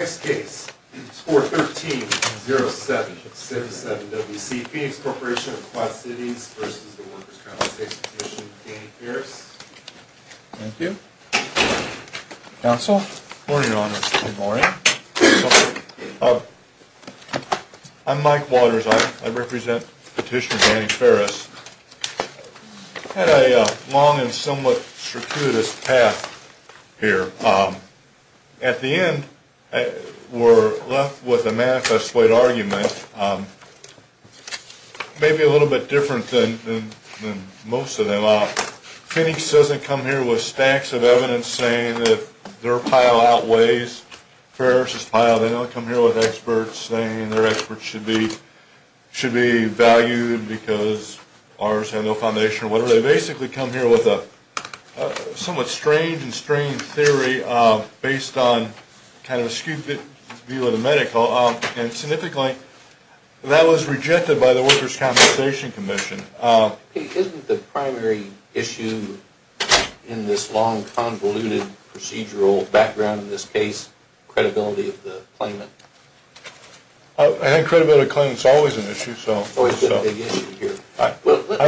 Danny Ferris. Thank you. Counsel. Good morning, Your Honor. Good morning. I'm Mike Waters. I represent Petitioner Danny Ferris. I had a long and somewhat circuitous path here. At the end, we're left with a manifestly argument, maybe a little bit different than most of them. Phoenix doesn't come here with stacks of evidence saying that their pile outweighs Ferris' pile. They don't come here with experts saying their experts should be valued because ours had no foundation. They basically come here with a somewhat strange and strained theory based on kind of a stupid view of the medical. And significantly, that was rejected by the Workers' Compensation Commission. Isn't the primary issue in this long, convoluted procedural background in this case credibility of the claimant? I think credibility of the claimant is always an issue. I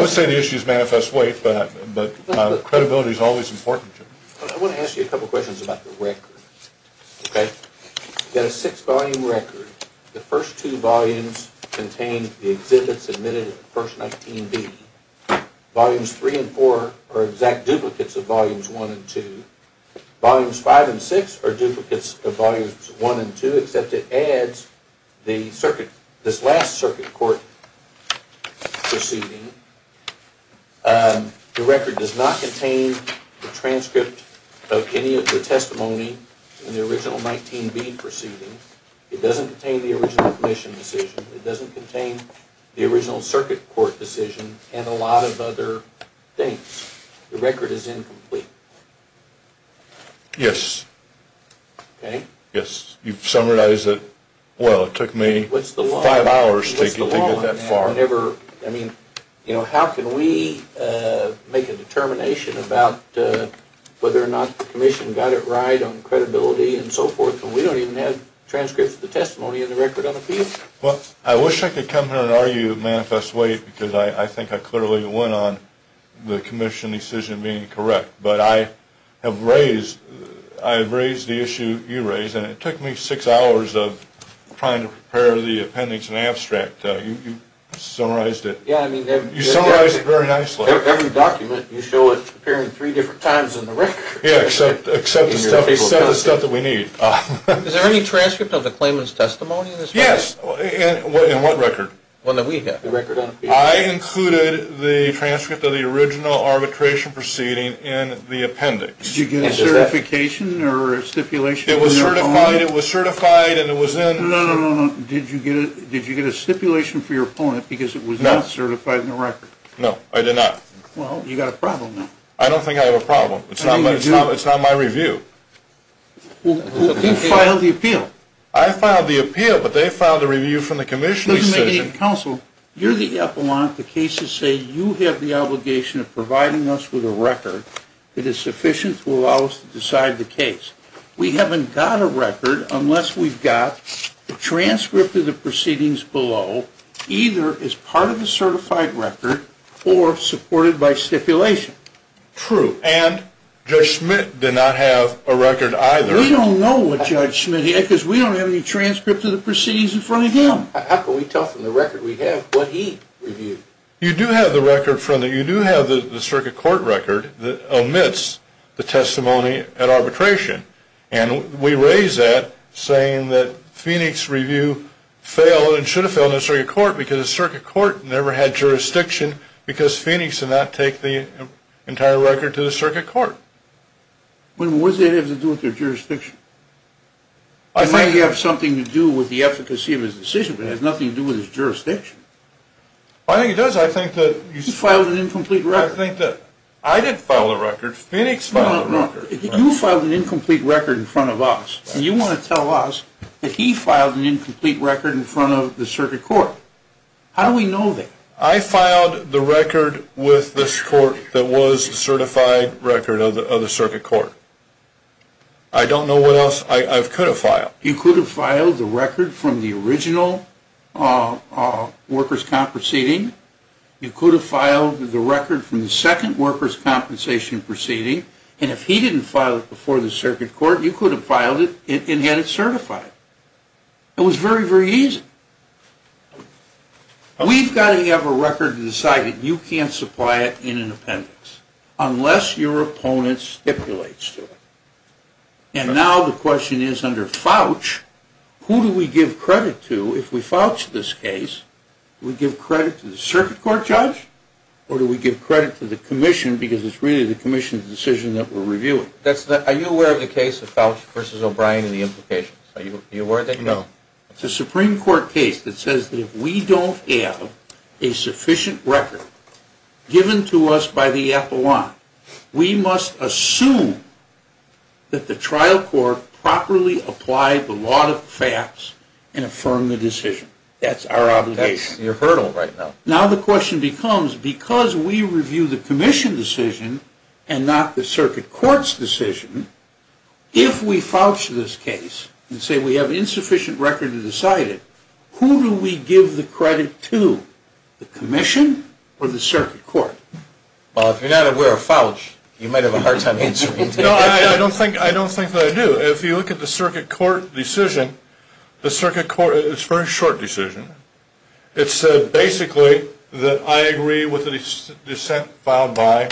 would say the issue is manifest weight, but credibility is always important. I want to ask you a couple of questions about the record. Okay? You've got a six-volume record. The first two volumes contain the exhibits admitted in the first 19B. Volumes three and four are exact duplicates of volumes one and two. Volumes five and six are duplicates of volumes one and two, except it adds this last circuit court proceeding. The record does not contain the transcript of any of the testimony in the original 19B proceeding. It doesn't contain the original admission decision. It doesn't contain the original circuit court decision and a lot of other things. The record is incomplete. Yes. Okay. Yes. You've summarized it well. It took me five hours to get that far. I mean, how can we make a determination about whether or not the commission got it right on credibility and so forth when we don't even have transcripts of the testimony in the record on appeal? Well, I wish I could come here and argue manifest weight because I think I clearly went on the commission decision being correct. But I have raised the issue you raised, and it took me six hours of trying to prepare the appendix and abstract. You summarized it very nicely. Every document, you show it appearing three different times in the record. Yes, except the stuff that we need. Is there any transcript of the claimant's testimony in this record? Yes. In what record? The record on appeal. I included the transcript of the original arbitration proceeding in the appendix. Did you get a certification or a stipulation from your opponent? It was certified. It was certified and it was in. No, no, no. Did you get a stipulation from your opponent because it was not certified in the record? No, I did not. Well, you've got a problem now. I don't think I have a problem. It's not my review. You filed the appeal. I filed the appeal, but they filed the review from the commission decision. You're the epilogue. The cases say you have the obligation of providing us with a record that is sufficient to allow us to decide the case. We haven't got a record unless we've got a transcript of the proceedings below, either as part of the certified record or supported by stipulation. True. And Judge Schmidt did not have a record either. We don't know what Judge Schmidt had because we don't have any transcripts of the proceedings in front of him. How can we tell from the record we have what he reviewed? You do have the circuit court record that omits the testimony at arbitration, and we raise that saying that Phoenix Review failed and should have failed in the circuit court because the circuit court never had jurisdiction because Phoenix did not take the entire record to the circuit court. What does that have to do with their jurisdiction? It may have something to do with the efficacy of his decision, but it has nothing to do with his jurisdiction. I think it does. I think that you... He filed an incomplete record. I didn't file a record. Phoenix filed a record. You filed an incomplete record in front of us, and you want to tell us that he filed an incomplete record in front of the circuit court. How do we know that? I filed the record with this court that was a certified record of the circuit court. I don't know what else I could have filed. You could have filed the record from the original workers' comp proceeding. You could have filed the record from the second workers' compensation proceeding, and if he didn't file it before the circuit court, you could have filed it and had it certified. It was very, very easy. We've got to have a record to decide that you can't supply it in an appendix unless your opponent stipulates to it. And now the question is under Fouch, who do we give credit to if we Fouch this case? Do we give credit to the circuit court judge or do we give credit to the commission because it's really the commission's decision that we're reviewing? Are you aware of the case of Fouch v. O'Brien and the implications? Are you aware of that? No. It's a Supreme Court case that says that if we don't have a sufficient record given to us by the Appalachian, we must assume that the trial court properly applied the law to the facts and affirmed the decision. That's our obligation. That's your hurdle right now. Now the question becomes, because we review the commission decision and not the circuit court's decision, if we Fouch this case and say we have insufficient record to decide it, who do we give the credit to, the commission or the circuit court? Well, if you're not aware of Fouch, you might have a hard time answering. No, I don't think that I do. If you look at the circuit court decision, it's a very short decision. It said basically that I agree with the dissent filed by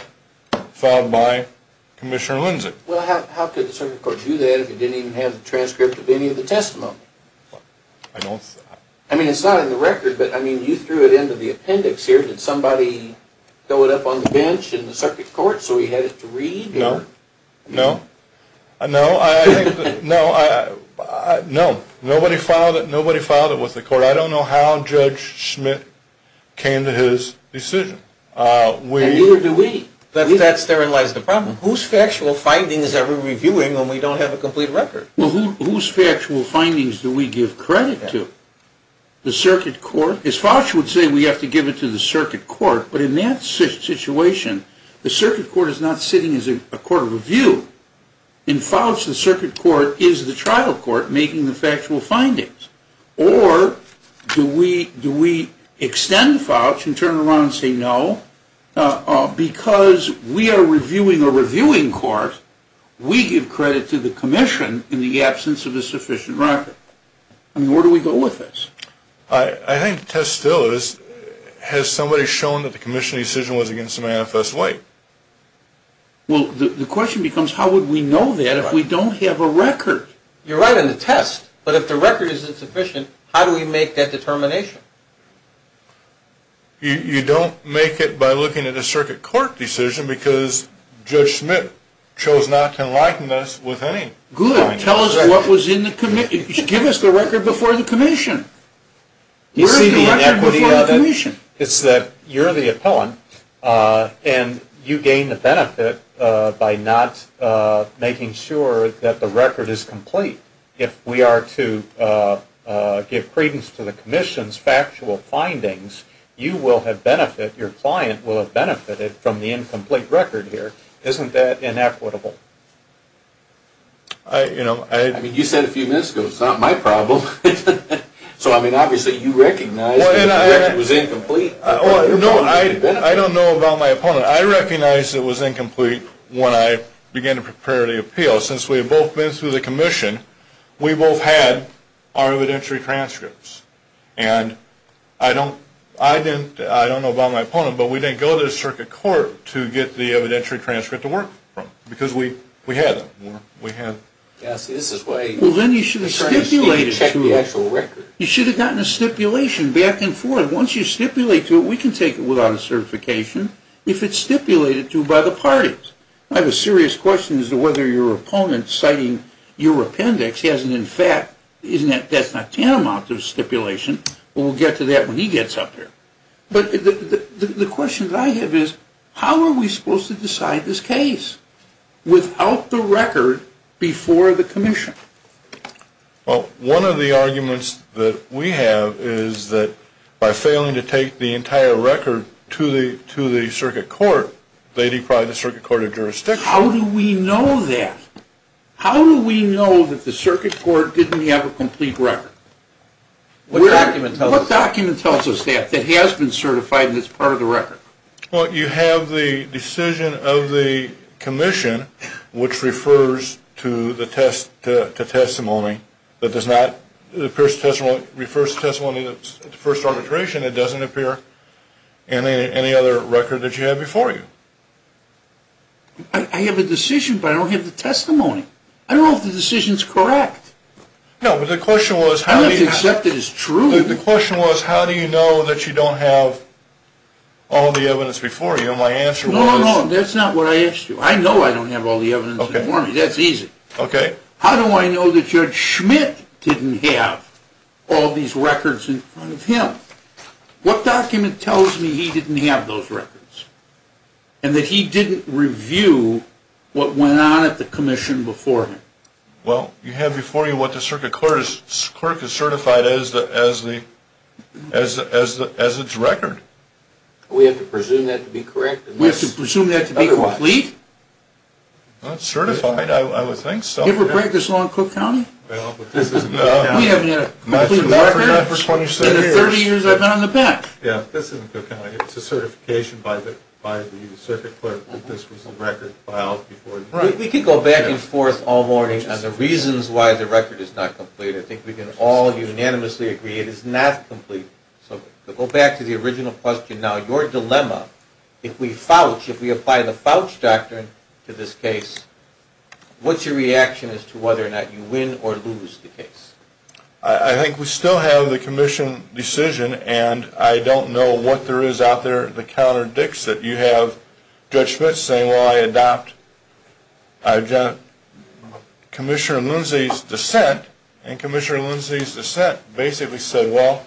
Commissioner Lindsay. Well, how could the circuit court do that if it didn't even have a transcript of any of the testimony? I don't think that. I mean, it's not in the record, but I mean, you threw it into the appendix here. Did somebody throw it up on the bench in the circuit court so he had it to read? No. No. No, I think that, no, I, no. Nobody filed it. Nobody filed it with the court. I don't know how Judge Schmidt came to his decision. And neither do we. That's therein lies the problem. Whose factual findings are we reviewing when we don't have a complete record? Well, whose factual findings do we give credit to? The circuit court. As Fouch would say, we have to give it to the circuit court, but in that situation, the circuit court is not sitting as a court of review. In Fouch, the circuit court is the trial court making the factual findings or do we extend Fouch and turn around and say no? Because we are reviewing a reviewing court, we give credit to the commission in the absence of a sufficient record. I mean, where do we go with this? I think the test still is, has somebody shown that the commission's decision was against a manifest way? Well, the question becomes, how would we know that if we don't have a record? You're right on the test. But if the record is insufficient, how do we make that determination? You don't make it by looking at a circuit court decision because Judge Schmidt chose not to enlighten us with any. Good. Tell us what was in the commission. Give us the record before the commission. You see the inequity of it? It's that you're the appellant and you gain the benefit by not making sure that the record is complete. If we are to give credence to the commission's factual findings, you will have benefited, your client will have benefited, from the incomplete record here. Isn't that inequitable? I mean, you said a few minutes ago it's not my problem. So, I mean, obviously you recognize the record was incomplete. No, I don't know about my opponent. I recognize it was incomplete when I began to prepare the appeal. So, since we have both been through the commission, we both had our evidentiary transcripts. And I don't know about my opponent, but we didn't go to the circuit court to get the evidentiary transcript to work from because we had them. Well, then you should have stipulated to it. You should have gotten a stipulation back and forth. Once you stipulate to it, we can take it without a certification if it's stipulated to by the parties. I have a serious question as to whether your opponent citing your appendix hasn't, in fact, that's not tantamount to a stipulation, but we'll get to that when he gets up here. But the question that I have is, how are we supposed to decide this case without the record before the commission? Well, one of the arguments that we have is that by failing to take the entire record to the circuit court, they deprive the circuit court of jurisdiction. How do we know that? How do we know that the circuit court didn't have a complete record? What document tells us that, that has been certified and is part of the record? Well, you have the decision of the commission, which refers to testimony that does not, and any other record that you have before you. I have a decision, but I don't have the testimony. I don't know if the decision is correct. No, but the question was how do you know that you don't have all the evidence before you? No, no, no, that's not what I asked you. I know I don't have all the evidence before me. That's easy. Okay. How do I know that Judge Schmidt didn't have all these records in front of him? What document tells me he didn't have those records and that he didn't review what went on at the commission before him? Well, you have before you what the circuit court has certified as its record. We have to presume that to be correct? We have to presume that to be complete? Not certified, I would think so. You ever practice law in Cook County? We haven't had a complete record in the 30 years I've been on the path. Yeah, this isn't Cook County. It's a certification by the circuit court that this was the record filed before you. We could go back and forth all morning on the reasons why the record is not complete. I think we can all unanimously agree it is not complete. So go back to the original question. Now, your dilemma, if we apply the Fouch Doctrine to this case, what's your reaction as to whether or not you win or lose the case? I think we still have the commission decision, and I don't know what there is out there that counterdicts it. You have Judge Schmidt saying, well, I adopt Commissioner Lindsay's dissent, and Commissioner Lindsay's dissent basically said, well,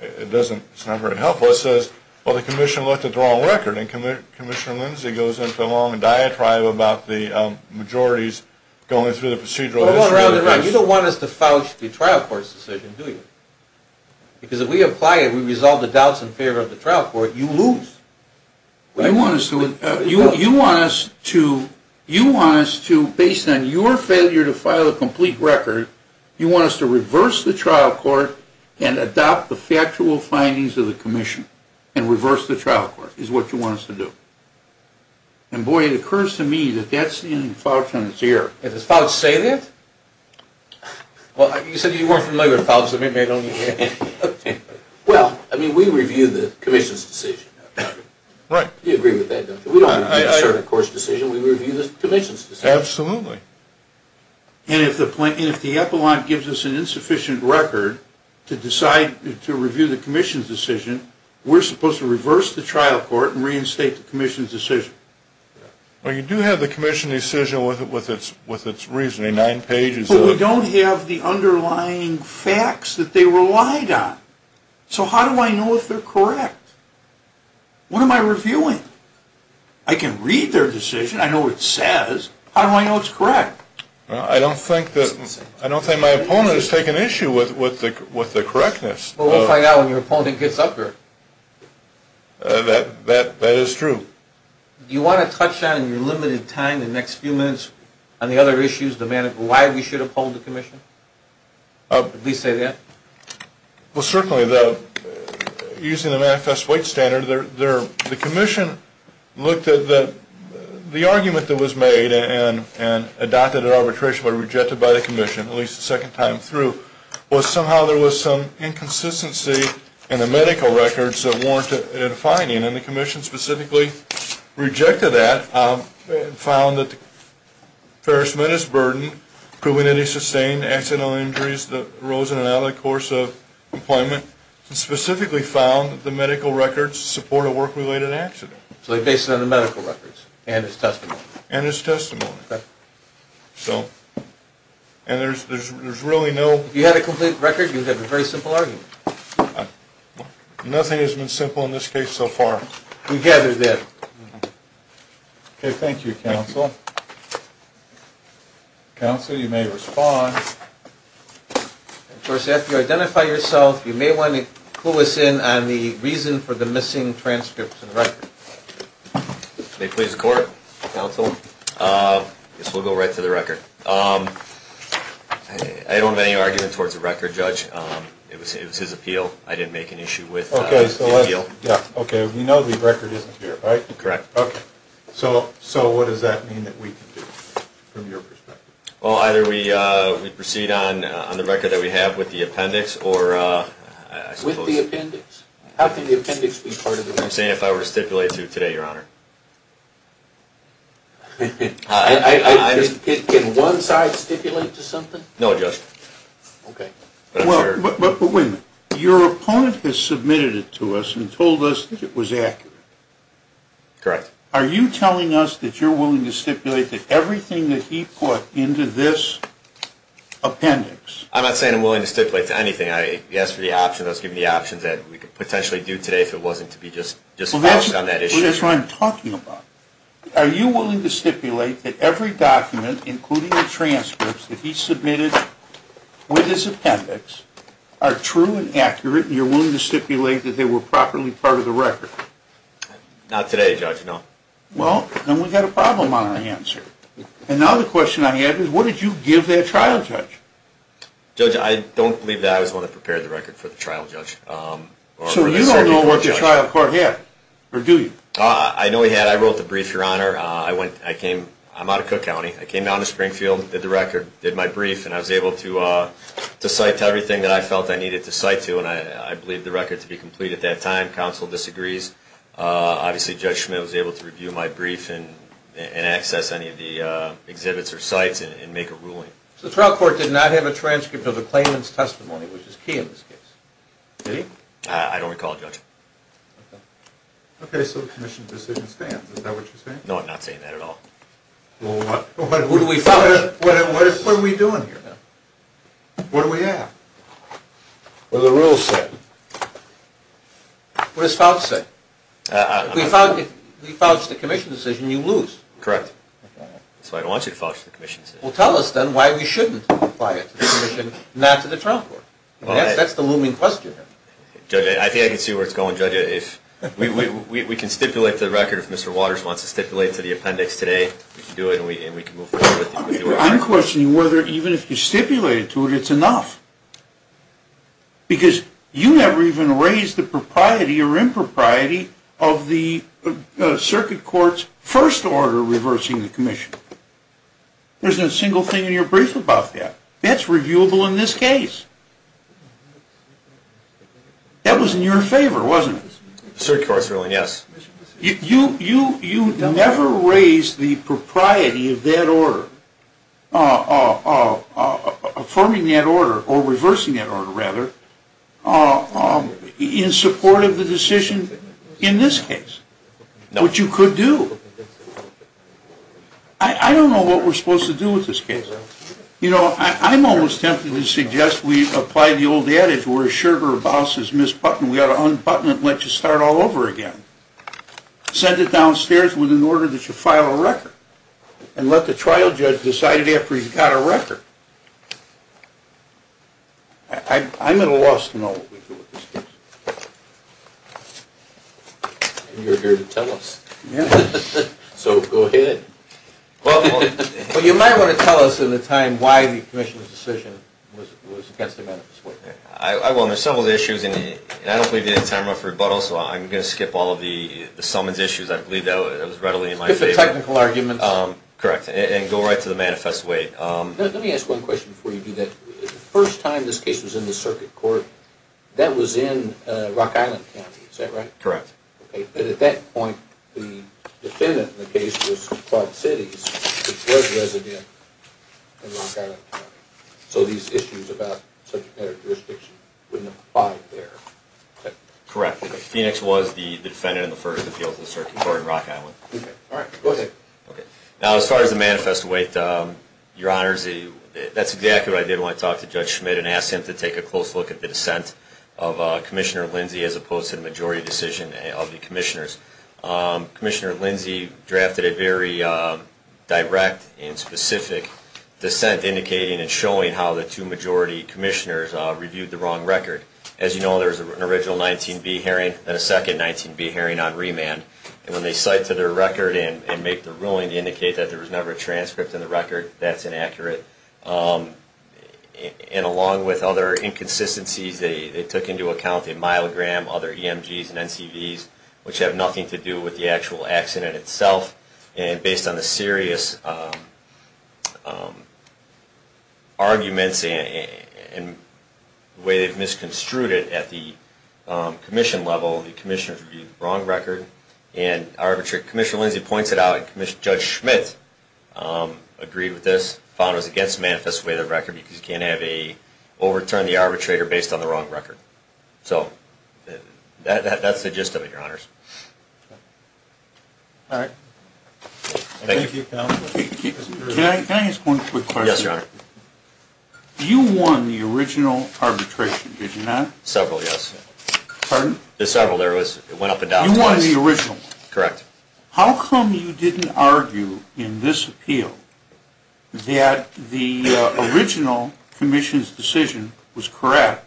it's not very helpful. It says, well, the commission looked at the wrong record, and Commissioner Lindsay goes into a long diatribe about the majorities going through the procedural. You don't want us to fouch the trial court's decision, do you? Because if we apply it, we resolve the doubts in favor of the trial court, you lose. You want us to, based on your failure to file a complete record, you want us to reverse the trial court and adopt the factual findings of the commission and reverse the trial court, is what you want us to do. And, boy, it occurs to me that that's in Fouch's ear. Does Fouch say that? Well, you said you weren't familiar with Fouch. Well, I mean, we review the commission's decision. Right. You agree with that, don't you? We don't review the court's decision. We review the commission's decision. Absolutely. And if the epilogue gives us an insufficient record to decide to review the commission's decision, we're supposed to reverse the trial court and reinstate the commission's decision. Well, you do have the commission's decision with its reasoning, nine pages of it. But we don't have the underlying facts that they relied on. So how do I know if they're correct? What am I reviewing? I can read their decision. I know what it says. How do I know it's correct? I don't think my opponent has taken issue with the correctness. Well, we'll find out when your opponent gets up here. That is true. Do you want to touch on, in your limited time, in the next few minutes, on the other issues, why we should uphold the commission? At least say that. Well, certainly, using the manifest weight standard, the commission looked at the argument that was made and adopted at arbitration but rejected by the commission, at least the second time through, was somehow there was some inconsistency in the medical records that warranted a defining. And the commission specifically rejected that and found that the Ferris Menace Burden, proving any sustained accidental injuries that arose in and out of the course of employment, specifically found that the medical records support a work-related accident. So they based it on the medical records and his testimony. And his testimony. And there's really no... If you had a complete record, you'd have a very simple argument. Nothing has been simple in this case so far. We gather that. Okay, thank you, counsel. Counsel, you may respond. Of course, after you identify yourself, you may want to clue us in on the reason for the missing transcripts and records. May it please the court? Counsel? This will go right to the record. I don't have any argument towards the record, Judge. It was his appeal. I didn't make an issue with the appeal. Okay, we know the record isn't here, right? Correct. Okay. So what does that mean that we can do, from your perspective? Well, either we proceed on the record that we have with the appendix or... With the appendix? How can the appendix be part of the record? I'm saying if I were to stipulate to today, Your Honor. Can one side stipulate to something? No, Judge. Okay. Wait a minute. Your opponent has submitted it to us and told us that it was accurate. Correct. Are you telling us that you're willing to stipulate that everything that he put into this appendix... I'm not saying I'm willing to stipulate to anything. He asked for the option. I was given the option that we could potentially do today if it wasn't to be just focused on that issue. That's what I'm talking about. Are you willing to stipulate that every document, including the transcripts, that he submitted with his appendix are true and accurate, and you're willing to stipulate that they were properly part of the record? Not today, Judge, no. Well, then we've got a problem on our hands here. And now the question I have is what did you give that trial judge? Judge, I don't believe that I was the one that prepared the record for the trial judge. So you don't know what the trial court had, or do you? I know he had. I wrote the brief, Your Honor. I'm out of Cook County. I came down to Springfield, did the record, did my brief, and I was able to cite everything that I felt I needed to cite to, and I believe the record to be complete at that time. I don't know if the county counsel disagrees. Obviously Judge Schmidt was able to review my brief and access any of the exhibits or cites and make a ruling. So the trial court did not have a transcript of the claimant's testimony, which is key in this case. Did he? I don't recall, Judge. Okay, so the commission's decision stands. Is that what you're saying? No, I'm not saying that at all. Well, what are we doing here, then? What do we have? Well, the rules say. What does Fouch say? If we fouls the commission's decision, you lose. Correct. That's what I want you to fouls the commission's decision. Well, tell us, then, why we shouldn't apply it to the commission, not to the trial court. That's the looming question. Judge, I think I can see where it's going. We can stipulate the record if Mr. Waters wants to stipulate to the appendix today. We can do it and we can move forward with it. I'm questioning whether even if you stipulate it to it, it's enough. Because you never even raised the propriety or impropriety of the circuit court's first order reversing the commission. There's not a single thing in your brief about that. That's reviewable in this case. That was in your favor, wasn't it? The circuit court's ruling, yes. You never raised the propriety of that order, affirming that order, or reversing that order, rather, in support of the decision in this case, which you could do. I don't know what we're supposed to do with this case. You know, I'm almost tempted to suggest we apply the old adage, we're as sure to our bosses, Ms. Putnam, we ought to unbutton it and let you start all over again. Send it downstairs with an order that you file a record. And let the trial judge decide it after he's got a record. I'm at a loss to know what we do with this case. You're here to tell us. So go ahead. Well, you might want to tell us in the time why the commission's decision was against the manifest weight. Well, there's several issues, and I don't believe we have time enough for rebuttal, so I'm going to skip all of the summons issues. I believe that was readily in my favor. Skip the technical arguments. Correct. And go right to the manifest weight. Let me ask one question before you do that. The first time this case was in the circuit court, that was in Rock Island County, is that right? Correct. Okay. And at that point, the defendant in the case was from Quad Cities, which was resident in Rock Island County. So these issues about subject matter jurisdiction wouldn't apply there. Correct. Phoenix was the defendant in the first appeal to the circuit court in Rock Island. Okay. All right. Go ahead. Okay. Now, as far as the manifest weight, Your Honors, that's exactly what I did when I talked to Judge Schmidt and asked him to take a close look at the dissent of Commissioner Lindsey as opposed to the majority decision of the commissioners. Commissioner Lindsey drafted a very direct and specific dissent indicating and showing how the two majority commissioners reviewed the wrong record. As you know, there was an original 19B hearing and a second 19B hearing on remand. And when they cite to their record and make the ruling to indicate that there was never a transcript in the record, that's inaccurate. And along with other inconsistencies, they took into account the myelogram, other EMGs and NCVs, which have nothing to do with the actual accident itself. And based on the serious arguments and the way they've misconstrued it at the commission level, the commissioners reviewed the wrong record. Commissioner Lindsey points it out. Judge Schmidt agreed with this, found it was against the manifest weight of the record because you can't overturn the arbitrator based on the wrong record. So that's the gist of it, Your Honors. All right. Thank you. Thank you. Can I ask one quick question? Yes, Your Honor. You won the original arbitration, did you not? Several, yes. Pardon? There were several. You won the original. Correct. How come you didn't argue in this appeal that the original commission's decision was correct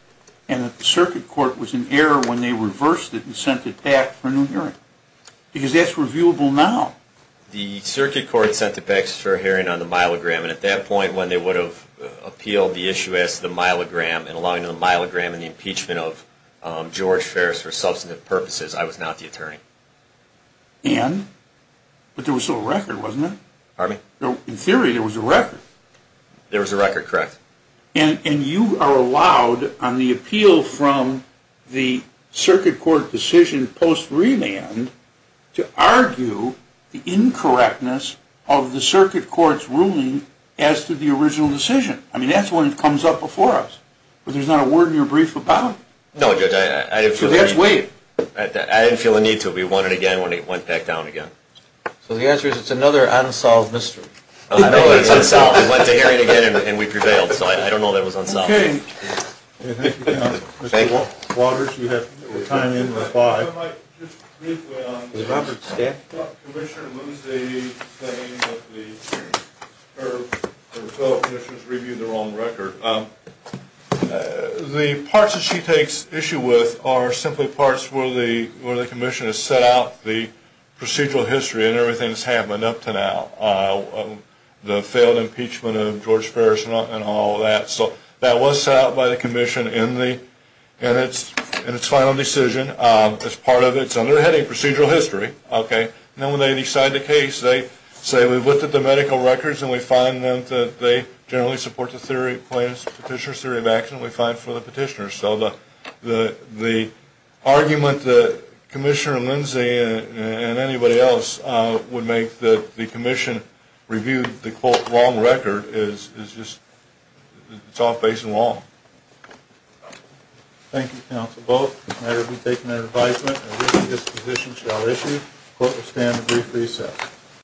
and that the circuit court was in error when they reversed it and sent it back for a new hearing? Because that's reviewable now. The circuit court sent it back for a hearing on the myelogram, and at that point when they would have appealed the issue as to the myelogram and the impeachment of George Ferris for substantive purposes, I was not the attorney. And? But there was still a record, wasn't there? Pardon me? In theory, there was a record. There was a record, correct. And you are allowed on the appeal from the circuit court decision post-remand to argue the incorrectness of the circuit court's ruling as to the original decision. I mean, that's when it comes up before us. But there's not a word in your brief about it. No, Judge, I didn't feel the need to. I didn't feel the need to. We won it again when it went back down again. So the answer is it's another unsolved mystery. No, it's unsolved. We went to hearing again, and we prevailed. So I don't know that it was unsolved. Okay. Thank you. Mr. Waters, you have time in the five. Mr. Roberts, staff? Commissioner, when was the time that the fellow commissioners reviewed the wrong record? The parts that she takes issue with are simply parts where the commission has set out the procedural history and everything that's happened up to now, the failed impeachment of George Ferris and all of that. So that was set out by the commission in its final decision as part of its underheading procedural history. Okay. And then when they decide the case, they say we've looked at the medical records, and we find that they generally support the petitioner's theory of accident we find for the petitioner. So the argument that Commissioner Lindsay and anybody else would make that the commission reviewed the, quote, It's all face and long. Thank you. Council vote. I will be taking that advisement. This position shall issue. Court will stand a brief recess.